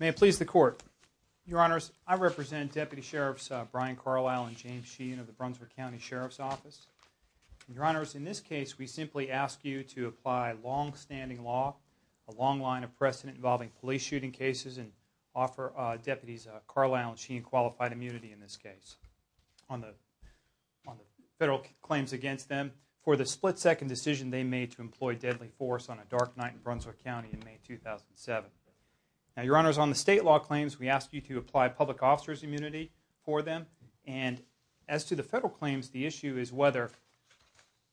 May it please the Court. Your Honors, I represent Deputy Sheriffs Brian Carlisle and James Sheehan of the Brunswick County Sheriff's Office. Your Honors, in this case we simply ask you to apply long-standing law, a long line of precedent involving police shooting cases and offer Deputies Carlisle and Sheehan qualified immunity in this case on the federal claims against them for the split-second decision they made to employ deadly force on a dark night in Brunswick County in May 2007. Now, Your Honors, on the state law claims, we ask you to apply public officer's immunity for them, and as to the federal claims, the issue is whether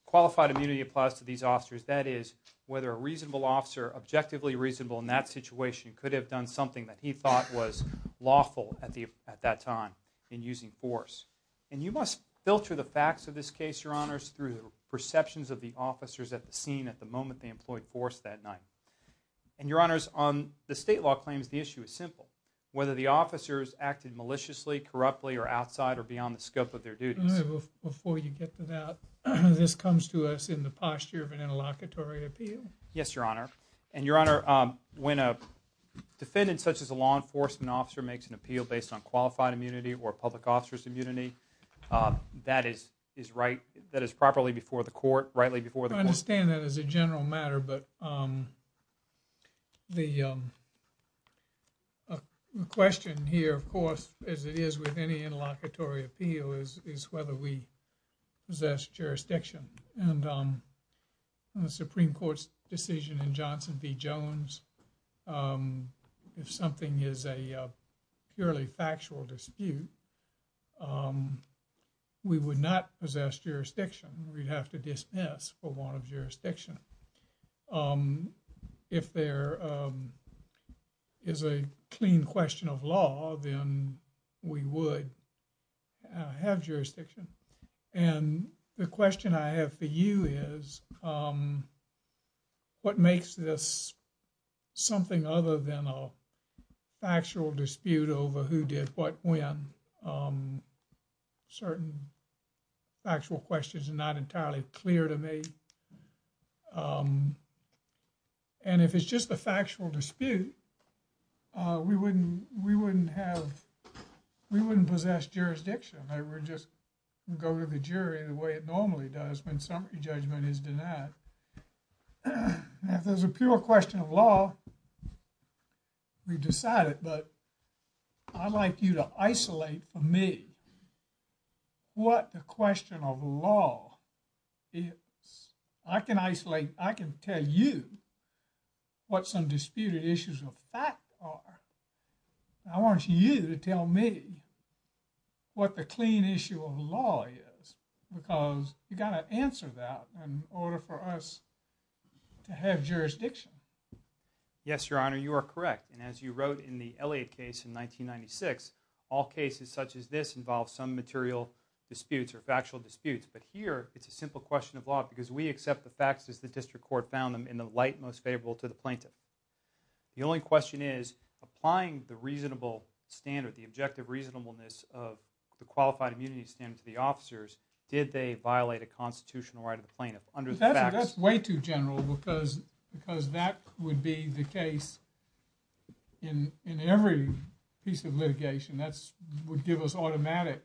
qualified immunity applies to these officers, that is, whether a reasonable officer, objectively reasonable in that situation, could have done something that he thought was lawful at that time in using force. And you must filter the facts of this case, Your Honors, through the perceptions of the officers at the scene at the moment they employed force that night. And Your Honors, on the state law claims, the issue is simple. Whether the officers acted maliciously, corruptly, or outside or beyond the scope of their duties. Before you get to that, this comes to us in the posture of an interlocutory appeal. Yes, Your Honor. And Your Honor, when a defendant such as a law enforcement officer makes an appeal based on qualified immunity or public officer's immunity, that is right, that is properly before the court, rightly before the court? I understand that as a general matter, but the question here, of course, as it is with any interlocutory appeal, is whether we possess jurisdiction. And the Supreme Court's decision in Johnson v. Jones, if something is a purely factual dispute, we would not possess jurisdiction. We'd have to dismiss for want of jurisdiction. If there is a clean question of law, then we would have jurisdiction. And the question I have for you is, what makes this something other than a factual dispute over who did what when? Certain factual questions are not entirely clear to me. And if it's just a factual dispute, we wouldn't have, we wouldn't possess jurisdiction. I would just go to the jury the way it normally does when summary judgment is denied. If there's a pure question of law, we've decided, but I'd like you to isolate for me what the question of law is. I can isolate, I can tell you what some disputed issues of fact are. I want you to tell me what the clean issue of law is, because you've got to answer that in order for us to have jurisdiction. Yes, Your Honor, you are correct. And as you wrote in the Elliott case in 1996, all cases such as this involve some material disputes or factual disputes. But here, it's a simple question of law, because we accept the facts as the district court found them in the light most favorable to the plaintiff. The only question is, applying the reasonable standard, the objective reasonableness of the qualified immunity standard to the officers, did they violate a constitutional right of the plaintiff under the statute? Because that would be the case in every piece of litigation. That would give us automatic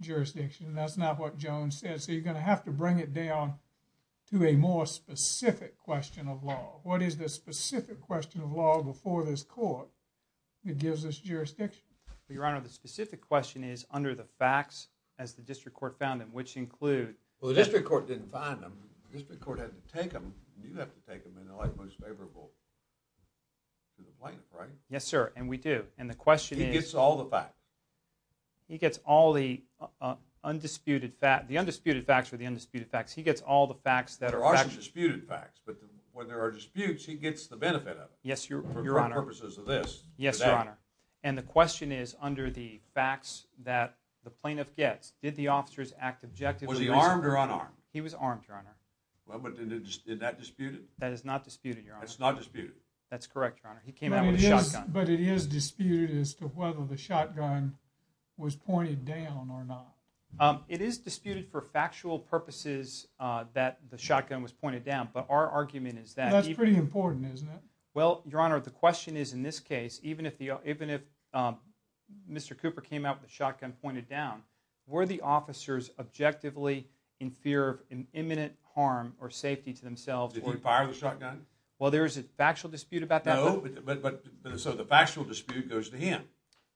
jurisdiction. That's not what Jones said. So, you're going to have to bring it down to a more specific question of law. What is the specific question of law before this court that gives us jurisdiction? Your Honor, the specific question is under the facts as the district court found them, which include... Well, the district court didn't find them. The district court had to take them. You have to take them in the light most favorable to the plaintiff, right? Yes, sir. And we do. And the question is... He gets all the facts. He gets all the undisputed facts. The undisputed facts are the undisputed facts. He gets all the facts that are... There are some disputed facts. But when there are disputes, he gets the benefit of it. Yes, Your Honor. For purposes of this. Yes, Your Honor. And the question is under the facts that the plaintiff gets, did the officers act objectively Was he armed or unarmed? He was armed, Your Honor. Well, but is that disputed? That is not disputed, Your Honor. That's not disputed? That's correct, Your Honor. He came out with a shotgun. But it is disputed as to whether the shotgun was pointed down or not. It is disputed for factual purposes that the shotgun was pointed down. But our argument is that... That's pretty important, isn't it? Well, Your Honor, the question is in this case, even if Mr. Cooper came out with a shotgun pointed down, were the officers objectively in fear of imminent harm or safety to themselves? Did he fire the shotgun? Well, there is a factual dispute about that. No, but so the factual dispute goes to him.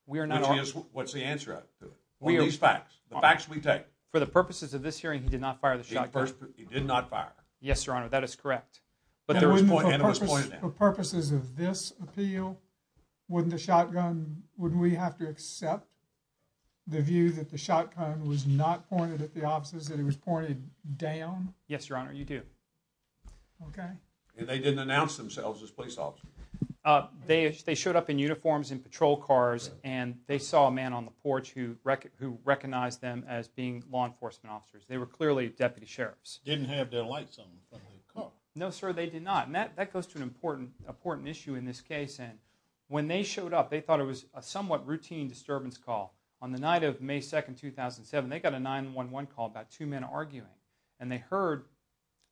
We are not... Which is, what's the answer to it? What are these facts? The facts we take. For the purposes of this hearing, he did not fire the shotgun. He did not fire. Yes, Your Honor, that is correct. But there was pointing down. For purposes of this appeal, wouldn't the shotgun, wouldn't we have to accept the view that the shotgun was not pointed at the officers, that it was pointed down? Yes, Your Honor, you do. And they didn't announce themselves as police officers? They showed up in uniforms and patrol cars and they saw a man on the porch who recognized them as being law enforcement officers. They were clearly deputy sheriffs. Didn't have their lights on in front of their car? No, sir, they did not. And that goes to an important issue in this case. And when they showed up, they thought it was a somewhat routine disturbance call. On the night of May 2, 2007, they got a 911 call about two men arguing. And they heard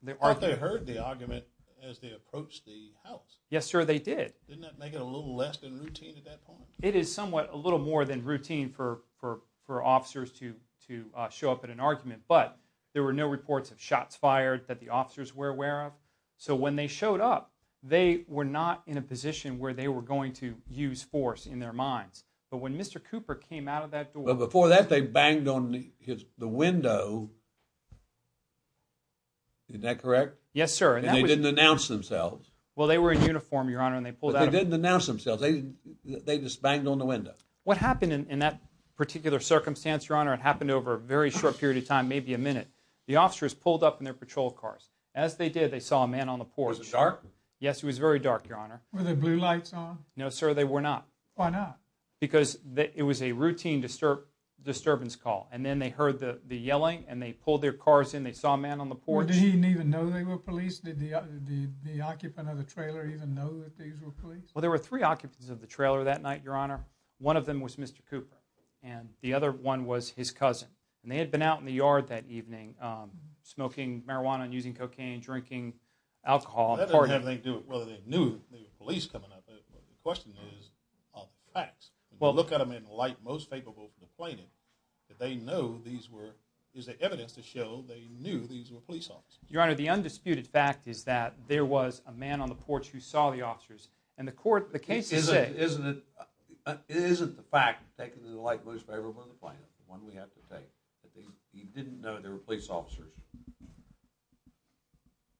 the argument. Or they heard the argument as they approached the house. Yes, sir, they did. Didn't that make it a little less than routine at that point? It is somewhat a little more than routine for officers to show up at an argument. But there were no reports of shots fired that the officers were aware of. So when they showed up, they were not in a position where they were going to use force in their minds. But when Mr. Cooper came out of that door... Well, before that, they banged on the window. Isn't that correct? Yes, sir. And they didn't announce themselves? Well, they were in uniform, Your Honor. But they didn't announce themselves. They just banged on the window. What happened in that particular circumstance, Your Honor? It happened over a very short period of time, maybe a minute. The officers pulled up in their patrol cars. As they did, they saw a man on the porch. Was it dark? Yes, it was very dark, Your Honor. Were there blue lights on? No, sir, they were not. Why not? Because it was a routine disturbance call. And then they heard the yelling and they pulled their cars in. They saw a man on the porch. Did he even know they were police? Did the occupant of the trailer even know that these were police? Well, there were three occupants of the trailer that night, Your Honor. One of them was Mr. Cooper. And the other one was his cousin. And they had been out in the yard that evening smoking marijuana and using cocaine and drinking alcohol and partying. That doesn't have anything to do with whether they knew they were police coming up. The question is of facts. If you look at them in the light most favorable for the plaintiff, did they know these were, is there evidence to show they knew these were police officers? Your Honor, the undisputed fact is that there was a man on the porch who saw the officers. And the court, the case is saying... Isn't it, isn't it, isn't the fact taken in the light most favorable for the plaintiff, the one we have to take, that he didn't know they were police officers?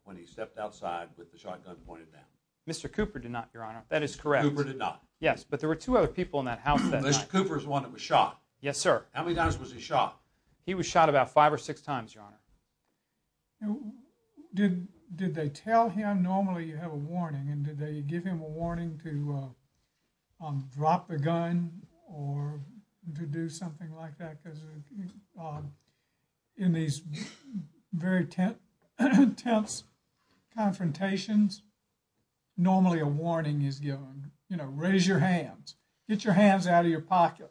When he stepped outside with the shotgun pointed down. Mr. Cooper did not, Your Honor. That is correct. Cooper did not. Yes, but there were two other people in that house that night. Mr. Cooper is the one that was shot. Yes, sir. How many times was he shot? He was shot about five or six times, Your Honor. Did they tell him, normally you have a warning, and did they give him a warning to drop the gun or to do something like that because in these very tense confrontations, normally a warning is given. You know, raise your hands. Get your hands out of your pocket.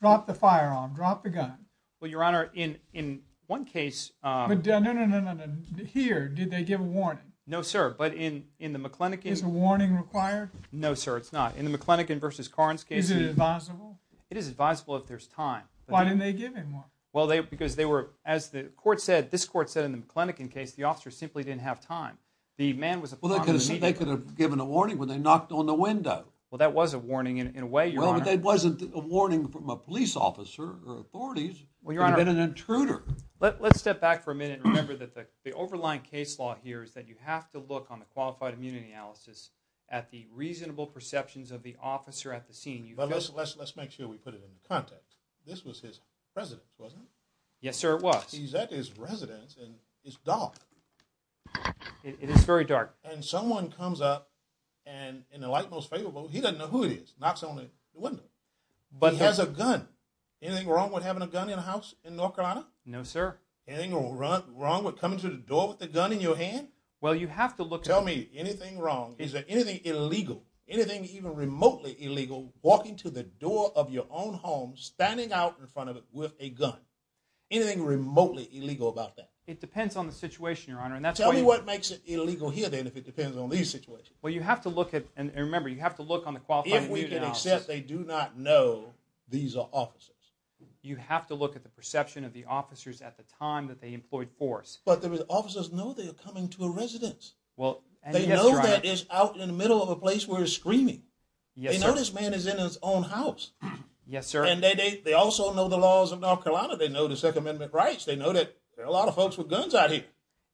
Drop the firearm. Drop the gun. Well, Your Honor, in one case... No, no, no, no, no, no. Here, did they give a warning? No, sir, but in the McLenican... Is a warning required? No, sir, it's not. In the McLenican v. Carnes case... Is it advisable? It is advisable if there's time. Why didn't they give him one? Well, because they were, as the court said, this court said in the McLenican case, the officer simply didn't have time. The man was... Well, they could have given a warning when they knocked on the window. Well, that was a warning in a way, Your Honor. Well, but that wasn't a warning from a police officer or authorities. It had been an intruder. Let's step back for a minute and remember that the overlying case law here is that you have to look on the Qualified Immunity Analysis at the reasonable perceptions of the defendant. Let's make sure we put it in context. This was his residence, wasn't it? Yes, sir, it was. He's at his residence, and it's dark. It is very dark. And someone comes up, and in the light most favorable, he doesn't know who it is, knocks on the window. But he has a gun. Anything wrong with having a gun in a house in North Carolina? No, sir. Anything wrong with coming to the door with a gun in your hand? Well, you have to look... Tell me, anything wrong, is there anything illegal, anything even of your own home, standing out in front of it with a gun, anything remotely illegal about that? It depends on the situation, Your Honor. Tell me what makes it illegal here, then, if it depends on these situations. Well, you have to look at, and remember, you have to look on the Qualified Immunity Analysis. If we can accept they do not know these are officers. You have to look at the perception of the officers at the time that they employed force. But the officers know they are coming to a residence. They know that it's out in the middle of a place where it's screaming. Yes, sir. They know this man is in his own house. Yes, sir. And they also know the laws of North Carolina. They know the Second Amendment rights. They know that there are a lot of folks with guns out here.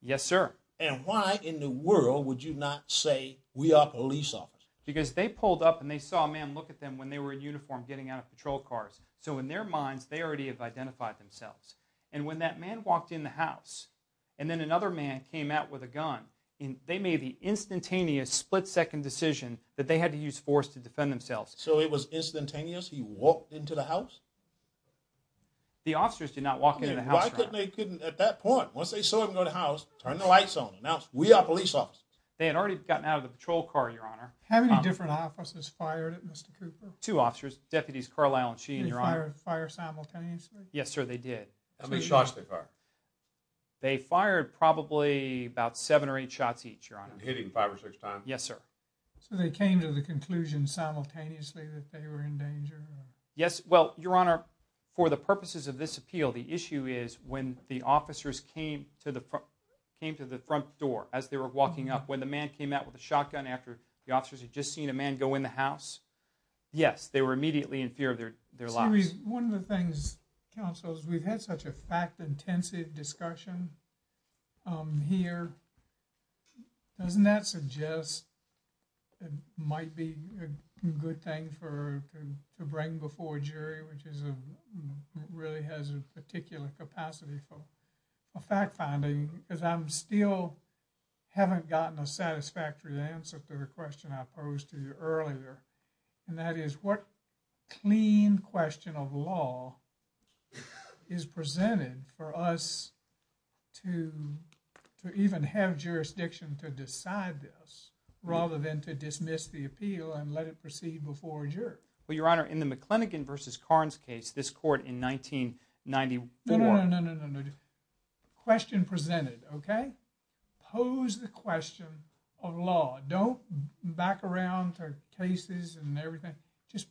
Yes, sir. And why in the world would you not say, we are police officers? Because they pulled up and they saw a man look at them when they were in uniform getting out of patrol cars. So in their minds, they already have identified themselves. And when that man walked in the house, and then another man came out with a gun, they made the instantaneous split-second decision that they had to use force to defend themselves. So it was instantaneous? He walked into the house? The officers did not walk into the house. Why couldn't they at that point, once they saw him go to the house, turn the lights on and announce, we are police officers? They had already gotten out of the patrol car, Your Honor. How many different officers fired at Mr. Cooper? Two officers. Deputies Carlisle and Sheehan, Your Honor. Did they fire simultaneously? Yes, sir. They did. How many shots did they fire? They fired probably about seven or eight Yes, sir. So they came to the conclusion simultaneously that they were in danger? Yes. Well, Your Honor, for the purposes of this appeal, the issue is when the officers came to the front door as they were walking up, when the man came out with a shotgun after the officers had just seen a man go in the house, yes, they were immediately in fear of their lives. One of the things, counsel, is we've had such a fact intensive discussion here. Doesn't that suggest it might be a good thing to bring before a jury which really has a particular capacity for fact finding? Because I still haven't gotten a satisfactory answer to the question I posed to you earlier and that is what clean question of law is presented for us to even have jurisdiction to decide this rather than to dismiss the appeal and let it proceed before a jury. Well, Your Honor, in the McLennigan v. Carnes case, this court in 1994... No, no, no. Question presented, okay? Pose the question of law. Don't back around to cases and everything. Just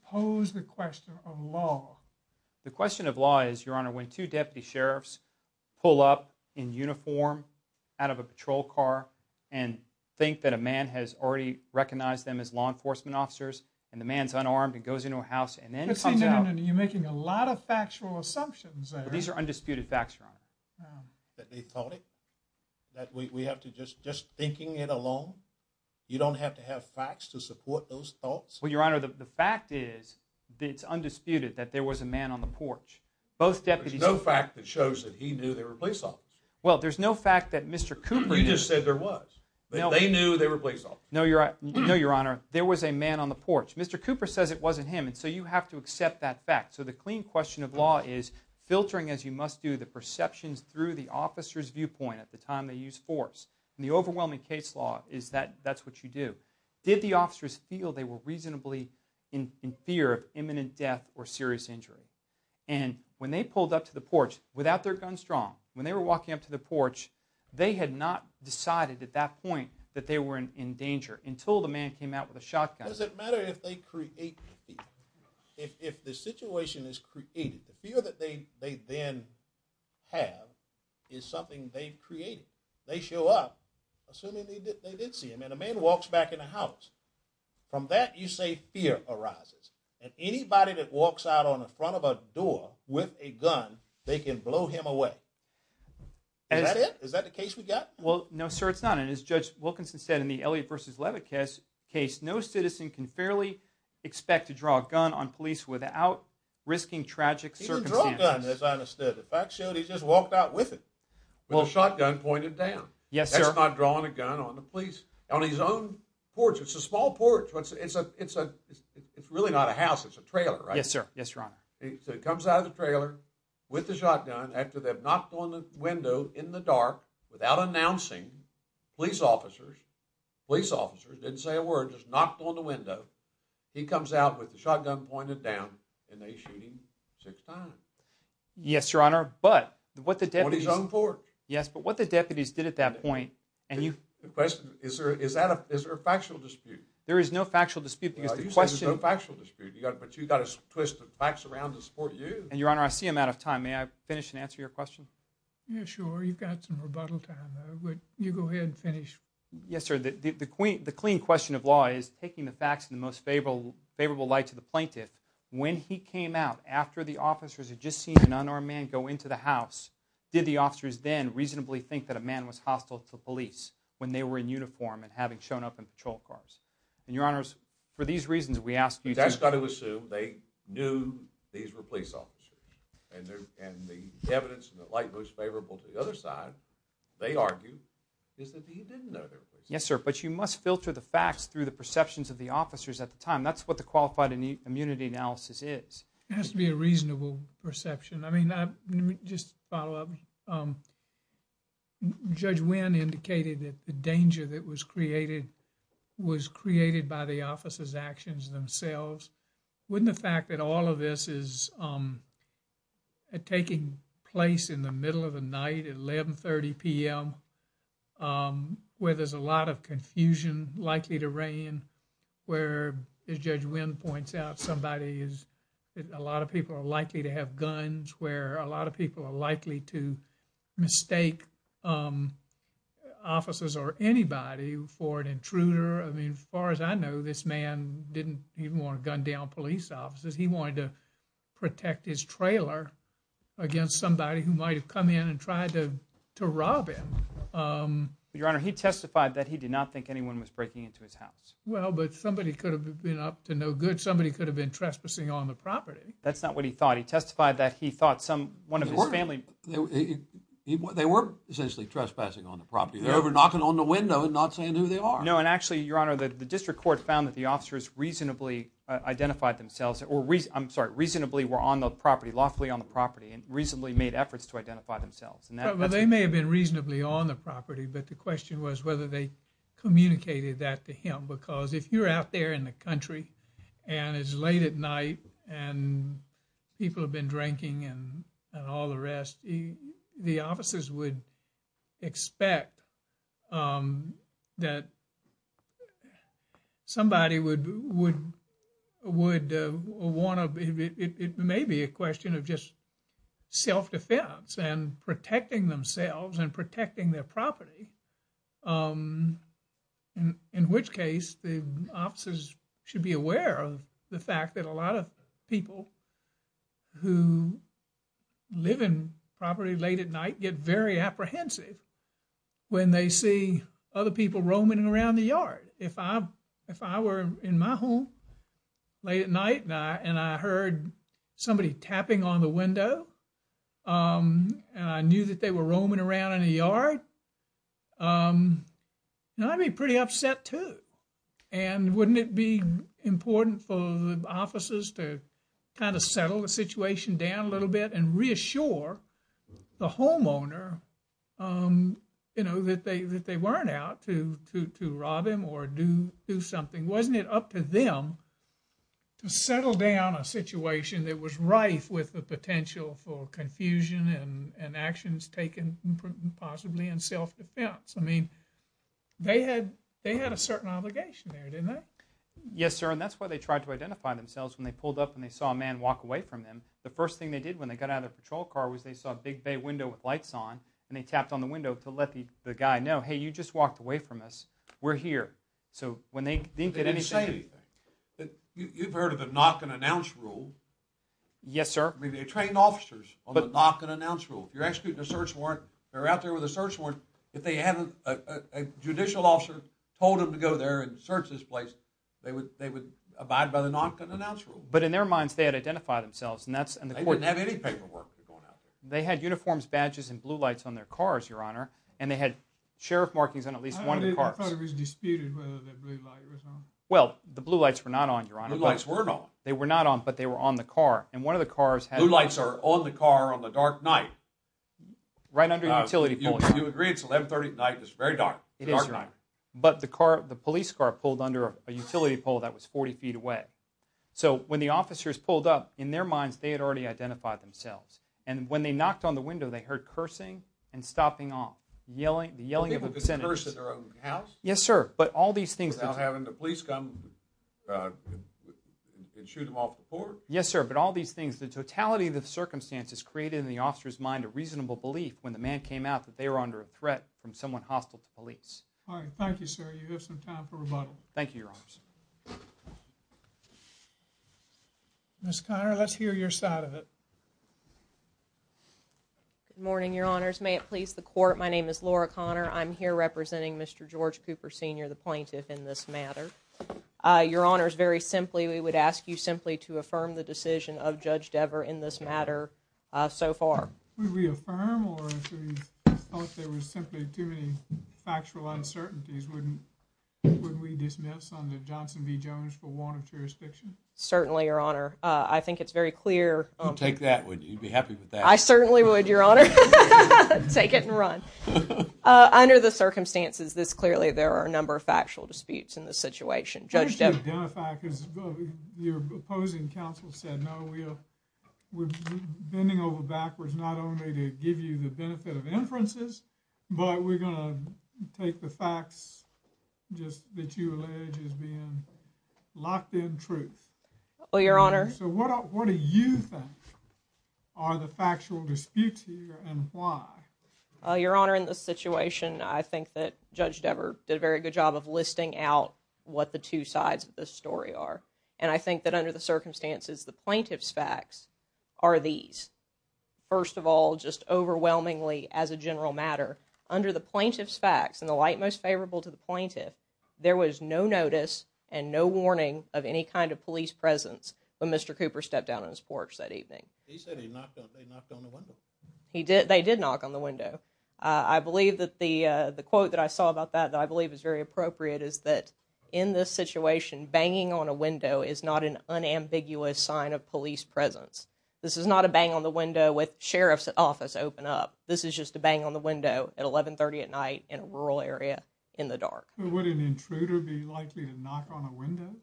two deputy sheriffs pull up in uniform out of a patrol car and think that a man has already recognized them as law enforcement officers and the man's unarmed and goes into a house and then comes out... You're making a lot of factual assumptions there. These are undisputed facts, Your Honor. That they thought it? That we have to just thinking it alone? You don't have to have facts to support those thoughts? Well, Your Honor, the fact is that it's undisputed that there was a man on the porch. Both deputies... There's no fact that shows that he knew they were police officers. Well, there's no fact that Mr. Cooper... You just said there was. They knew they were police officers. No, Your Honor. There was a man on the porch. Mr. Cooper says it wasn't him and so you have to accept that fact. So the clean question of law is filtering, as you must do, the perceptions through the officer's viewpoint at the time they used force. In the overwhelming case law, that's what you do. Did the officers feel they were reasonably in fear of imminent death or serious injury? And when they pulled up to the porch without their guns drawn, when they were walking up to the porch, they had not decided at that point that they were in danger until the man came out with a shotgun. Does it matter if they create fear? If the situation is created, the fear that they then have is something they've created. They show up assuming they did see him and a man walks back in the house. From that you say fear arises. And anybody that walks out on the front of a door with a gun, they can blow him away. Is that it? Is that the case we got? Well, no sir, it's not. And as Judge Wilkinson said in the Elliott v. Levitt case, no citizen can fairly expect to draw a gun on police without risking tragic circumstances. He didn't draw a gun, as I understood it. Fact showed he just walked out with it. With a shotgun pointed down. Yes, sir. That's not drawing a gun on the police. On his own porch. It's a small porch. It's really not a house. It's a trailer, right? Yes, sir. Yes, Your Honor. He comes out of the trailer with the shotgun after they've knocked on the window in the dark without announcing police officers. Police officers, didn't say a word, just knocked on the window. He comes out with the shotgun pointed down and they shoot him six times. Yes, Your Honor, but what the deputies... On his own porch. Yes, but what the deputies did at that point... The question, is there a factual dispute? There is no factual dispute because the question... You say there's no factual dispute, but you've got to twist the facts around to support you. And Your Honor, I see I'm out of time. May I finish and answer your question? Yeah, sure. You've got some rebuttal time. You go ahead and finish. Yes, sir. The clean question of law is taking the facts in the most favorable light to the plaintiff. When he came out, after the officers had just seen a man go into the house, did the officers then reasonably think that a man was hostile to police when they were in uniform and having shown up in patrol cars? And Your Honors, for these reasons, we ask you to... That's got to assume they knew these were police officers. And the evidence in the light most favorable to the other side, they argue, is that he didn't know they were police officers. Yes, sir, but you must filter the facts through the perceptions of the officers at the time. That's what the Qualified Immunity Analysis is. It has to be a reasonable perception. I mean, let me just follow up. Judge Wynn indicated that the danger that was created was created by the officers' actions themselves. Wouldn't the fact that all of this is taking place in the middle of the night at 1130 p.m., where there's a lot of confusion likely to reign, where, as Judge Wynn points out, a lot of people are likely to have mistaken officers or anybody for an intruder. I mean, as far as I know, this man didn't even want to gun down police officers. He wanted to protect his trailer against somebody who might have come in and tried to rob him. Your Honor, he testified that he did not think anyone was breaking into his house. Well, but somebody could have been up to no good. Somebody could have been trespassing on the property. That's not what he thought. He testified that he thought one of his family... They weren't essentially trespassing on the property. They're over knocking on the window and not saying who they are. No, and actually, Your Honor, the district court found that the officers reasonably identified themselves or, I'm sorry, reasonably were on the property, lawfully on the property and reasonably made efforts to identify themselves. Well, they may have been reasonably on the property, but the question was whether they communicated that to him because if you're out there in the country and it's late at night and people have been drinking and all the rest, the officers would expect that somebody would want to... It may be a question of just self-defense and protecting themselves and protecting their property, in which case the officers should be aware of the fact that a lot of people who live in property late at night get very apprehensive when they see other people roaming around the yard. If I were in my home late at night and I heard somebody tapping on the window and I knew that they were roaming around in the yard, I'd be pretty upset, too. And wouldn't it be important for the officers to kind of settle the situation down a little bit and reassure the homeowner that they weren't out to rob him or do something? Wasn't it up to them to settle down a situation that was rife with the potential for confusion and actions taken possibly in self-defense? I mean, they had a certain obligation there, didn't they? Yes, sir. And that's why they tried to identify themselves. When they pulled up and they saw a man walk away from them, the first thing they did when they got out of the patrol car was they saw a big bay window with lights on and they tapped on the window to let the guy know, hey, you just walked away from us. We're here. So when they didn't get anything... They didn't say anything. You've heard of the knock-and-announce rule. Yes, sir. I mean, they trained officers on the knock-and-announce rule. If you're executing a search warrant, if you're out there with a search warrant, if a judicial officer told them to go there and search this place, they would abide by the knock-and-announce rule. But in their minds, they had identified themselves and that's... They didn't have any paperwork going out there. They had uniforms, badges, and blue lights on their cars, Your Honor, and they had sheriff markings on at least one of the cars. I don't think it was disputed whether the blue light was on. Well, the blue lights were not on, Your Honor. The blue lights were not on. They were not on, but they were on the car. And one of the cars had... Blue lights are on the car on the dark night. Right under a utility pole, Your Honor. You agree it's 1130 at night. It's very dark. It is, Your Honor. Dark night. But the police car pulled under a utility pole that was 40 feet away. So, when the officers pulled up, in their minds, they had already identified themselves. And when they knocked on the window, they heard cursing and stopping off. The yelling of a sentence. People could curse at their own house? Yes, sir. But all these things... Without having the police come and shoot them off the porch? Yes, sir. But all these things, the totality of the circumstances created in the officer's mind a reasonable belief when the man came out that they were under a threat from someone hostile to police. All right. Thank you, sir. You have some time for rebuttal. Thank you, Your Honors. Ms. Conner, let's hear your side of it. Good morning, Your Honors. May it please the Court, my name is Laura Conner. I'm here representing Mr. George Cooper, Sr., the plaintiff in this matter. Your Honors, very simply, we would ask you simply to affirm the decision of Judge Dever in this matter so far. Would we affirm, or if we thought there was simply too many factual uncertainties, wouldn't we dismiss on the Johnson v. Jones for warrant of jurisdiction? Certainly, Your Honor. I think it's very clear... You'd take that? You'd be happy with that? I certainly would, Your Honor. Take it and run. Under the circumstances this clearly, there are a number of factual disputes in this situation. Judge Dever... and counsel said, no, we're bending over backwards not only to give you the benefit of inferences, but we're going to take the facts just that you allege as being locked in truth. Well, Your Honor... So, what do you think are the factual disputes here and why? Your Honor, in this situation, I think that Judge Dever did a very good job of listing out what the two sides of this story are, and I think that under the circumstances, the plaintiff's facts are these. First of all, just overwhelmingly as a general matter, under the plaintiff's facts and the light most favorable to the plaintiff, there was no notice and no warning of any kind of police presence when Mr. Cooper stepped down on his porch that evening. He said they knocked on the window. They did knock on the window. I believe that the quote that I saw about that that I believe is very appropriate is that in this situation, banging on a window is not an unambiguous sign of police presence. This is not a bang on the window with sheriff's office open up. This is just a bang on the window at 1130 at night in a rural area in the dark. Would an intruder be likely to knock on a window?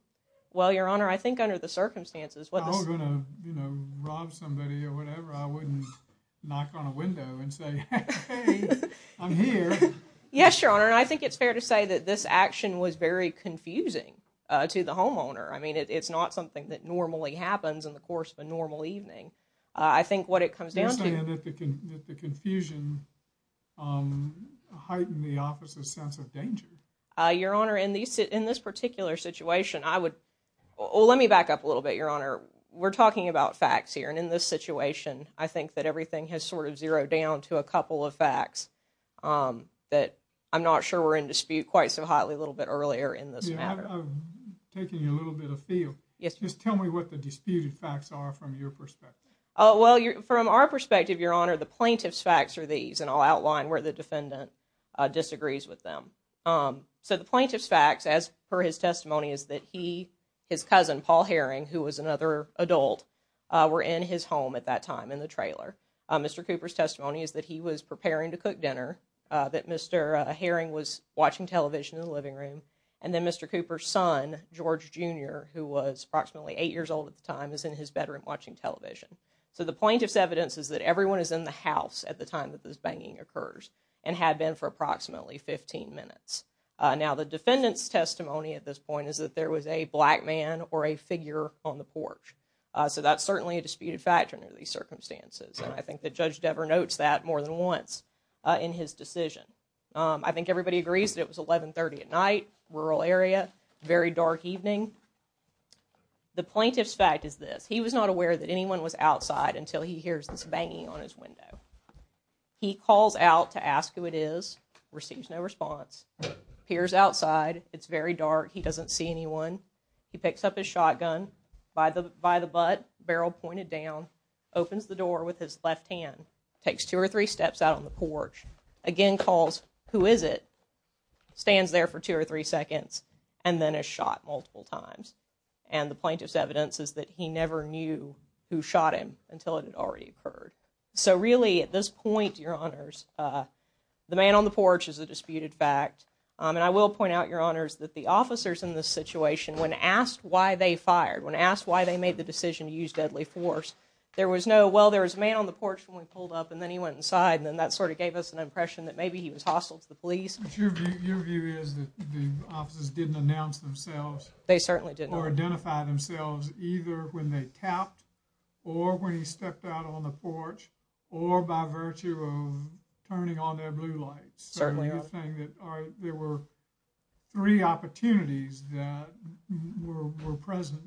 Well, Your Honor, I think under the circumstances... If I was going to rob somebody or whatever, I wouldn't knock on a window and say, hey, I'm here. Yes, Your Honor, and I think it's very confusing to the homeowner. I mean, it's not something that normally happens in the course of a normal evening. I think what it comes down to... You're saying that the confusion heightened the officer's sense of danger. Your Honor, in this particular situation, I would... Well, let me back up a little bit, Your Honor. We're talking about facts here, and in this situation, I think that everything has sort of zeroed down to a couple of facts that I'm not sure were in dispute quite so hotly a little bit earlier in this matter. Just tell me what the disputed facts are from your perspective. Well, from our perspective, Your Honor, the plaintiff's facts are these, and I'll outline where the defendant disagrees with them. So the plaintiff's facts, as per his testimony, is that he, his cousin Paul Herring, who was another adult, were in his home at that time in the trailer. Mr. Cooper's testimony is that he was preparing to cook dinner, that Mr. Herring was watching television in the living room, and then Mr. Cooper's son, George Jr., who was approximately eight years old at the time, is in his bedroom watching television. So the plaintiff's evidence is that everyone is in the house at the time that this banging occurs, and had been for approximately 15 minutes. Now, the defendant's testimony at this point is that there was a black man or a figure on the porch. So that's certainly a disputed fact under these circumstances, and I think that Judge Devere notes that more than once in his decision. I think everybody agrees that it was 1130 at night, rural area, very dark evening. The plaintiff's fact is this, he was not aware that anyone was outside until he hears this banging on his window. He calls out to ask who it is, receives no response, appears outside, it's very dark, he doesn't see anyone. He picks up his shotgun, by the butt, barrel pointed down, opens the door, takes two or three steps out on the porch, again calls who is it, stands there for two or three seconds, and then is shot multiple times. And the plaintiff's evidence is that he never knew who shot him until it had already occurred. So really, at this point, Your Honors, the man on the porch is a disputed fact, and I will point out, Your Honors, that the officers in this situation, when asked why they fired, when asked why they made the decision to use deadly force, there was no answer. He was on the porch when we pulled up, and then he went inside, and that sort of gave us an impression that maybe he was hostile to the police. But your view is that the officers didn't announce themselves. They certainly didn't. Or identify themselves either when they tapped or when he stepped out on the porch or by virtue of turning on their blue lights. There were three opportunities that were present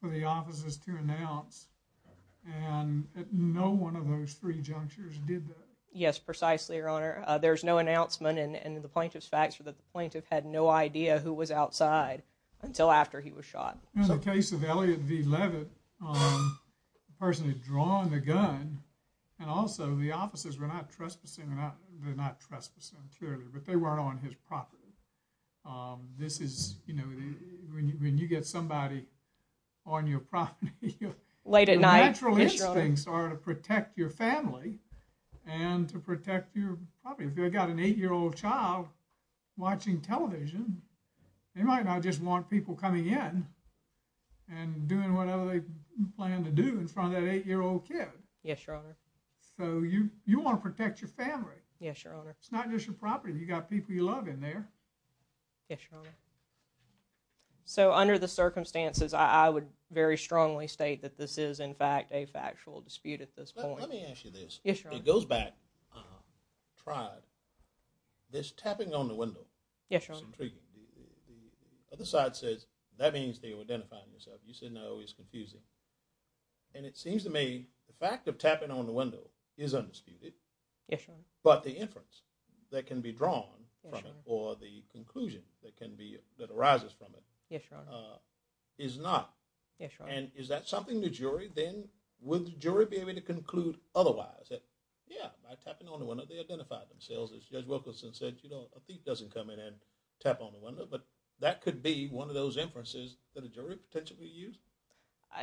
for the officers to announce and no one of those three junctures did that. Yes, precisely, Your Honor. There's no announcement, and the plaintiff's facts were that the plaintiff had no idea who was outside until after he was shot. In the case of Elliot V. Levitt, the person who had drawn the gun, and also the officers were not trespassing they're not trespassing, clearly, but they weren't on his property. This is, you know, when you get somebody on your property. Late at night. Your natural instincts are to protect your family and to protect your property. If you've got an 8-year-old child watching television they might not just want people coming in and doing whatever they plan to do in front of that 8-year-old kid. Yes, Your Honor. So, you want to protect your family. Yes, Your Honor. It's not just your property. You've got people you love in there. Yes, Your Honor. So, under the circumstances, I would very strongly state that this is, in fact, a factual dispute at this point. Let me ask you this. Yes, Your Honor. It goes back, tried, this tapping on the window. Yes, Your Honor. The other side says, that means they were identifying themselves. You said no, it's confusing. And it seems to me, the fact of tapping on the window is undisputed. Yes, Your Honor. But the inference that can be drawn from it or the conclusion that can be, that arises from it. Yes, Your Honor. Is not. Yes, Your Honor. And is that something the jury then, would the jury be able to conclude otherwise? That, yeah, by tapping on the window they identified themselves as Judge Wilkerson said, you know, a thief doesn't come in and tap on the window. But that could be one of those inferences that a jury potentially used.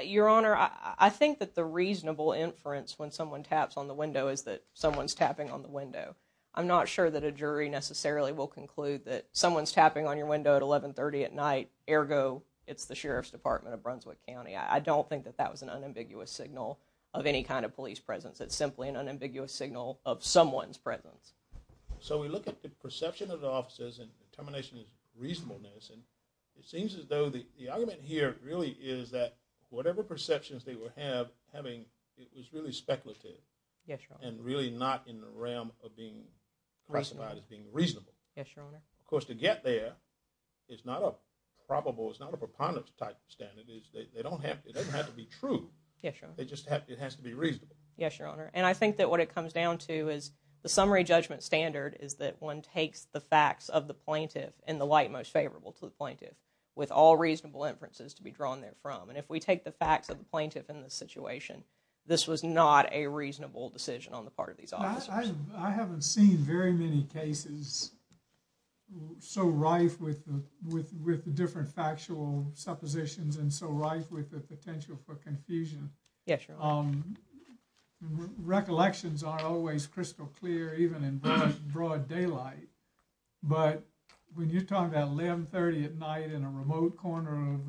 Your Honor, I think that the reasonable inference when someone taps on the window is that someone's tapping on the window. I'm not sure that a jury necessarily will conclude that someone's tapping on your window at 1130 at night. Ergo, it's the Sheriff's Department of Brunswick County. I don't think that that was an unambiguous signal of any kind of police presence. It's simply an unambiguous signal of someone's presence. So we look at the perception of the officers and determination of reasonableness and it seems as though the argument here really is that whatever perceptions they were having, it was really speculative. Yes, Your Honor. And really not in the realm of being classified as being reasonable. Yes, Your Honor. Of course, to get there, it's not a probable, it's not a preponderance type standard. It doesn't have to be true. Yes, Your Honor. It just has to be reasonable. Yes, Your Honor. And I think that what it comes down to is the summary judgment standard is that one takes the facts of the plaintiff in the light most favorable to the plaintiff with all reasonable inferences to be drawn there from. And if we take the facts of the plaintiff in this situation, this was not a reasonable decision on the part of these officers. I haven't seen very many cases so rife with the different factual suppositions and so rife with the potential for confusion. Yes, Your Honor. Recollections aren't always crystal clear even in broad daylight. But when you're talking about 1130 at night in a remote corner of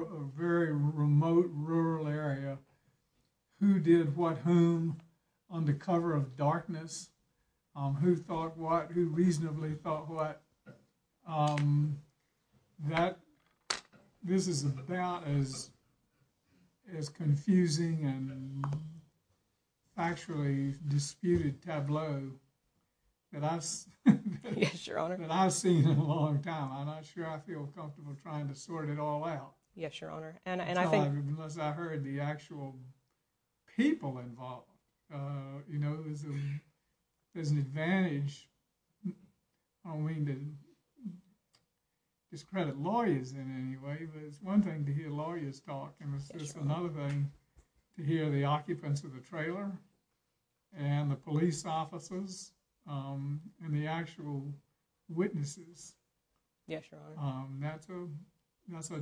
a very remote rural area, who did what whom on the cover of darkness, who thought what, who reasonably thought what, this is about as confusing and factually disputed tableau that I've seen in a long time. I'm not sure I feel comfortable trying to sort it all out. Yes, Your Honor. Unless I heard the actual people involved. You know, there's an advantage, I don't mean to discredit lawyers in any way, but it's one thing to hear lawyers talk and it's just another thing to hear the occupants of the trailer and the police officers and the actual witnesses. Yes, Your Honor. That's a, that's a,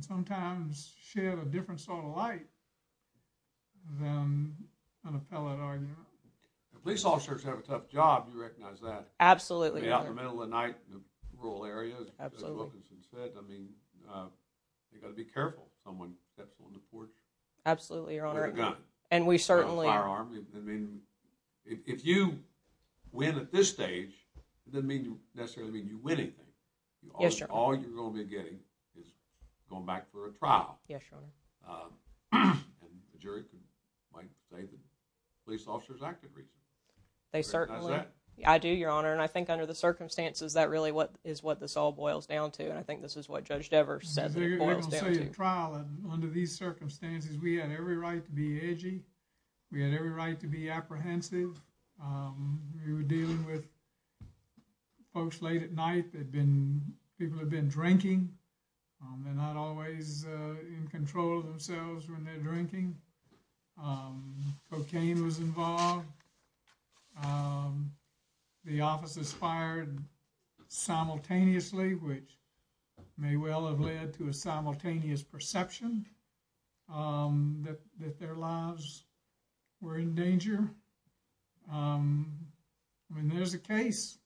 sometimes shed a different sort of light than an appellate argument. The police officers have a tough job, you recognize that? Absolutely, Your Honor. In the middle of the night in the rural areas. Absolutely. I mean, you gotta be careful if someone steps on the porch. Absolutely, Your Honor. With a gun. And we certainly. With a firearm. If you win at this stage, it doesn't mean you necessarily win anything. Yes, Your Honor. All you're going to be getting is going back for a trial. Yes, Your Honor. And the jury might say the police officers acted reasonably. They certainly. Recognize that? I do, Your Honor, and I think under the circumstances that really is what this all boils down to and I think this is what Judge Devers said it boils down to. You're going to say a trial and under these circumstances we had every right to be edgy, we had every right to be apprehensive, we were dealing with folks late at night that had been, people had been drinking. They're not always in control of themselves when they're drinking. Cocaine was involved. The officers fired simultaneously which may well have led to a simultaneous perception that their lives were in danger. I mean, there's a case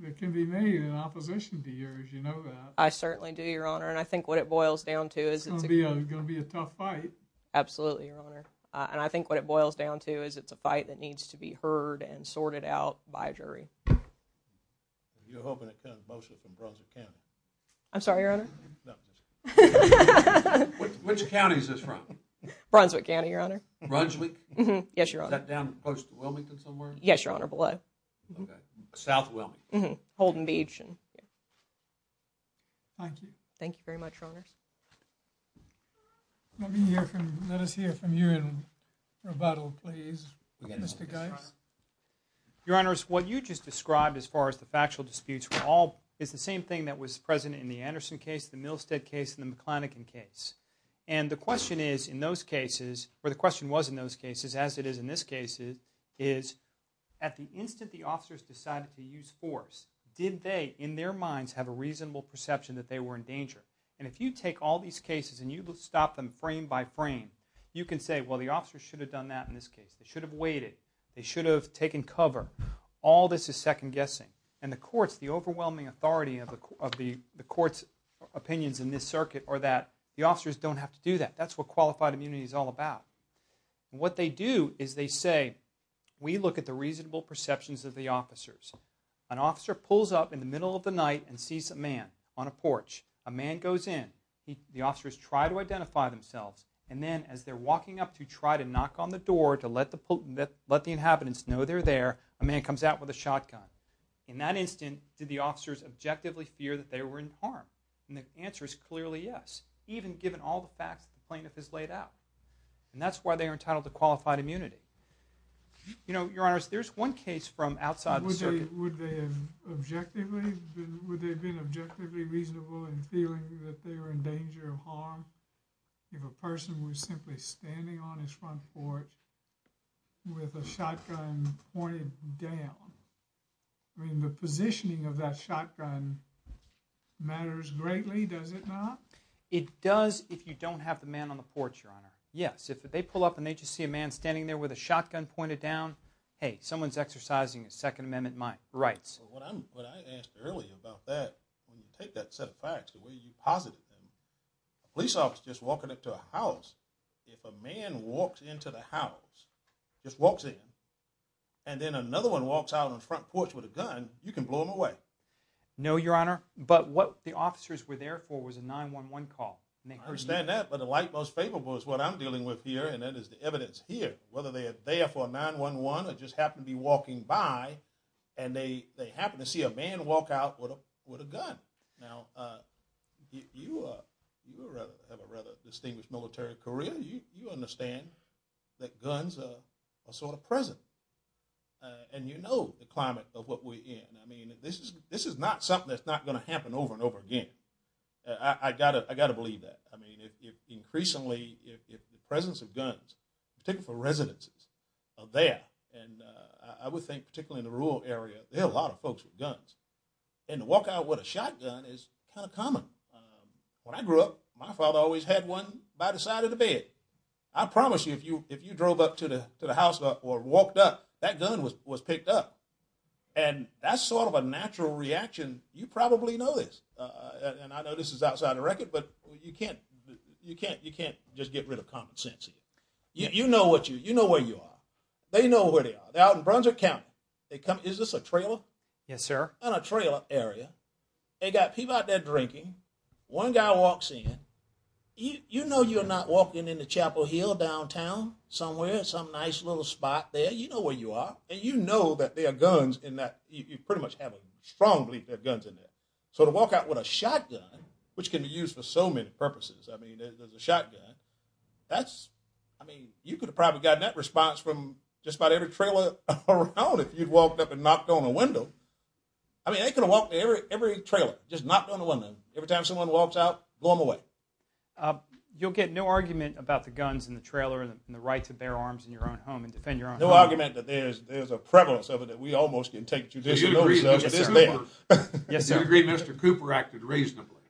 that can be made in opposition to yours, you know that. I certainly do, Your Honor, and I think what it boils down to is It's going to be a tough fight. Absolutely, Your Honor, and I think what it boils down to is it's a fight that needs to be heard and sorted out by a jury. You're hoping it comes mostly from Brunswick County. I'm sorry, Your Honor? No, I'm just kidding. Which county is this from? Brunswick County, Your Honor. Brunswick? Yes, Your Honor. Is that down close to Wilmington somewhere? Yes, Your Honor, below. South Wilmington. Holden Beach. Thank you. Thank you very much, Your Honors. Let us hear from you in rebuttal, please, Mr. Guice. Your Honors, what you just described as far as the factual disputes is the same thing that was present in the Anderson case, the Milstead case, and the McClannigan case. And the question is in those cases, or the question was in those cases, as it is in this case is, at the instant the officers decided to use force, did they, in their minds, have a reasonable perception that they were in danger? And if you take all these cases and you stop them frame by frame, you can say, well, the officers should have done that in this case. They should have waited. They should have taken cover. All this is second guessing. And the courts, the overwhelming authority of the court's opinions in this circuit are that the officers don't have to do that. That's what qualified immunity is all about. What they do is they say, we look at the reasonable perceptions of the officers. An officer pulls up in the middle of the night and sees a man on a porch. A man goes in. The officers try to identify themselves. And then as they're walking up to try to knock on the door to let the inhabitants know they're there, a man comes out with a shotgun. In that instant, did the officers objectively fear that they were in harm? And the answer is clearly yes, even given all the facts the plaintiff has laid out. And that's why they are entitled to qualified immunity. You know, Your Honors, there's one case from outside the circuit. Would they have been objectively reasonable in feeling that they were in danger of harm if a person was simply standing on his front porch with a shotgun pointed down? I mean, the positioning of that shotgun matters greatly, does it not? It does if you don't have the man on the porch, Your Honor. Yes, if they pull up and they just see a man standing there with a shotgun pointed down, hey, someone's exercising his Second Amendment rights. What I asked earlier about that, when you take that set of facts, the way you posit it, a police officer just walking up to a house, if a man walks into the house, just walks in, and then another one walks out on the front porch with a gun, you can blow them away. No, Your Honor, but what the officers were there for was a 9-1-1 call. I understand that, but the light most favorable is what I'm dealing with here, and that is the evidence here. Whether they are there for a 9-1-1 or just happen to be walking by, and they happen to see a man walk out with a gun. Now, you have a rather distinguished military career. You understand that guns are sort of present, and you know the climate of what we're in. I mean, this is not something that's not going to happen over and over again. I got to believe that. I mean, increasingly, if the presence of guns, particularly for residences, are there, and I would think particularly in the rural area, there are a lot of folks with guns, and to walk out with a shotgun is kind of common. When I grew up, my father always had one by the side of the bed. I promise you, if you drove up to the house or walked up, that gun was picked up, and that's sort of a natural reaction. You probably know this, and I know this is outside of the record, but you can't just get rid of common sense. You know where you are. They know where they are. They're out in Brunswick County. Is this a trailer? Yes, sir. They're in a trailer area. They got people out there drinking. One guy walks in. You know you're not walking in the Chapel Hill downtown somewhere, some nice little spot there. You know where you are, and you know that there are guns in that. You pretty much have a strong belief there are guns in there, so to walk out with a shotgun, which can be used for so many purposes. I mean, there's a shotgun. That's, I mean, you could have probably gotten that response from just about every trailer around if you'd walked up and knocked on a window. I mean, they could have walked in every trailer, just knocked on the window. Every time someone walks out, blow them away. You'll get no argument about the guns in the trailer and the right to bear arms in your own home and defend your own home? No argument that there's a prevalence of it that we almost can take judicial notice of. Yes, sir. Do you agree Mr. Cooper acted reasonably?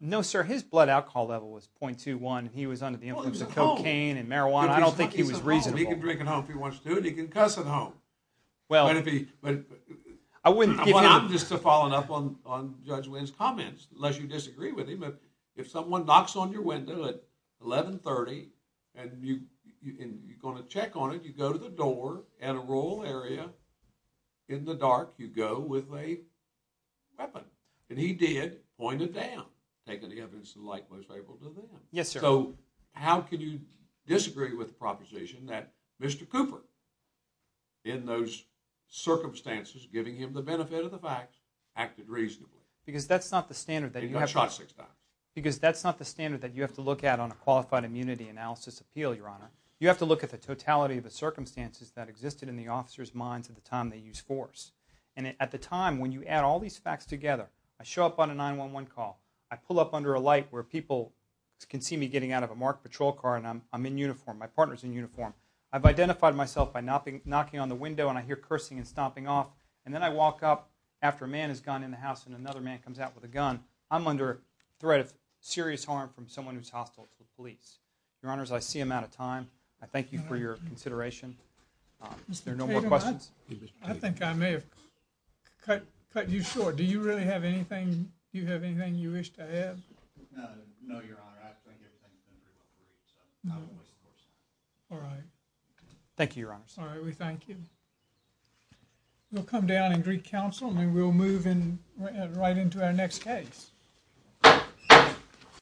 No, sir. His blood alcohol level was .21. He was under the influence of cocaine and marijuana. I don't think he was reasonable. He can drink at home if he wants to, and he can cuss at home. I wouldn't give him... Well, I'm just following up on Judge Wynn's comments unless you disagree with him. If someone knocks on your window at 1130 and you're going to check on it, you go to the door in a rural area in the dark, you go with a weapon. And he did point it down taking the evidence to the light most likely to do that. Yes, sir. So, how can you disagree with the proposition that Mr. Cooper, in those circumstances giving him the benefit of the facts, acted reasonably? Because that's not the standard that you have... He got shot six times. Because that's not the standard that you have to look at on a qualified immunity analysis appeal, Your Honor. You have to look at the totality of the circumstances that existed in the officers' minds at the time they used force. And at the time, when you add all these facts together, I show up on a 911 call, I pull up under a light where people can see me getting out of a marked patrol car and I'm in uniform, my partner's in uniform. I've identified myself by knocking on the window and I hear cursing and stomping off. And then I walk up after a man has gone in the house and another man comes out with a gun. I'm under threat of serious harm from someone who's hostile to the police. Your Honors, I see I'm out of time. I thank you for your consideration. Is there no more questions? I think I may have cut you short. Do you really have anything you wish to add? No, Your Honor. Thank you, Your Honors. We'll come down in Greek Council and we'll move right into our next case.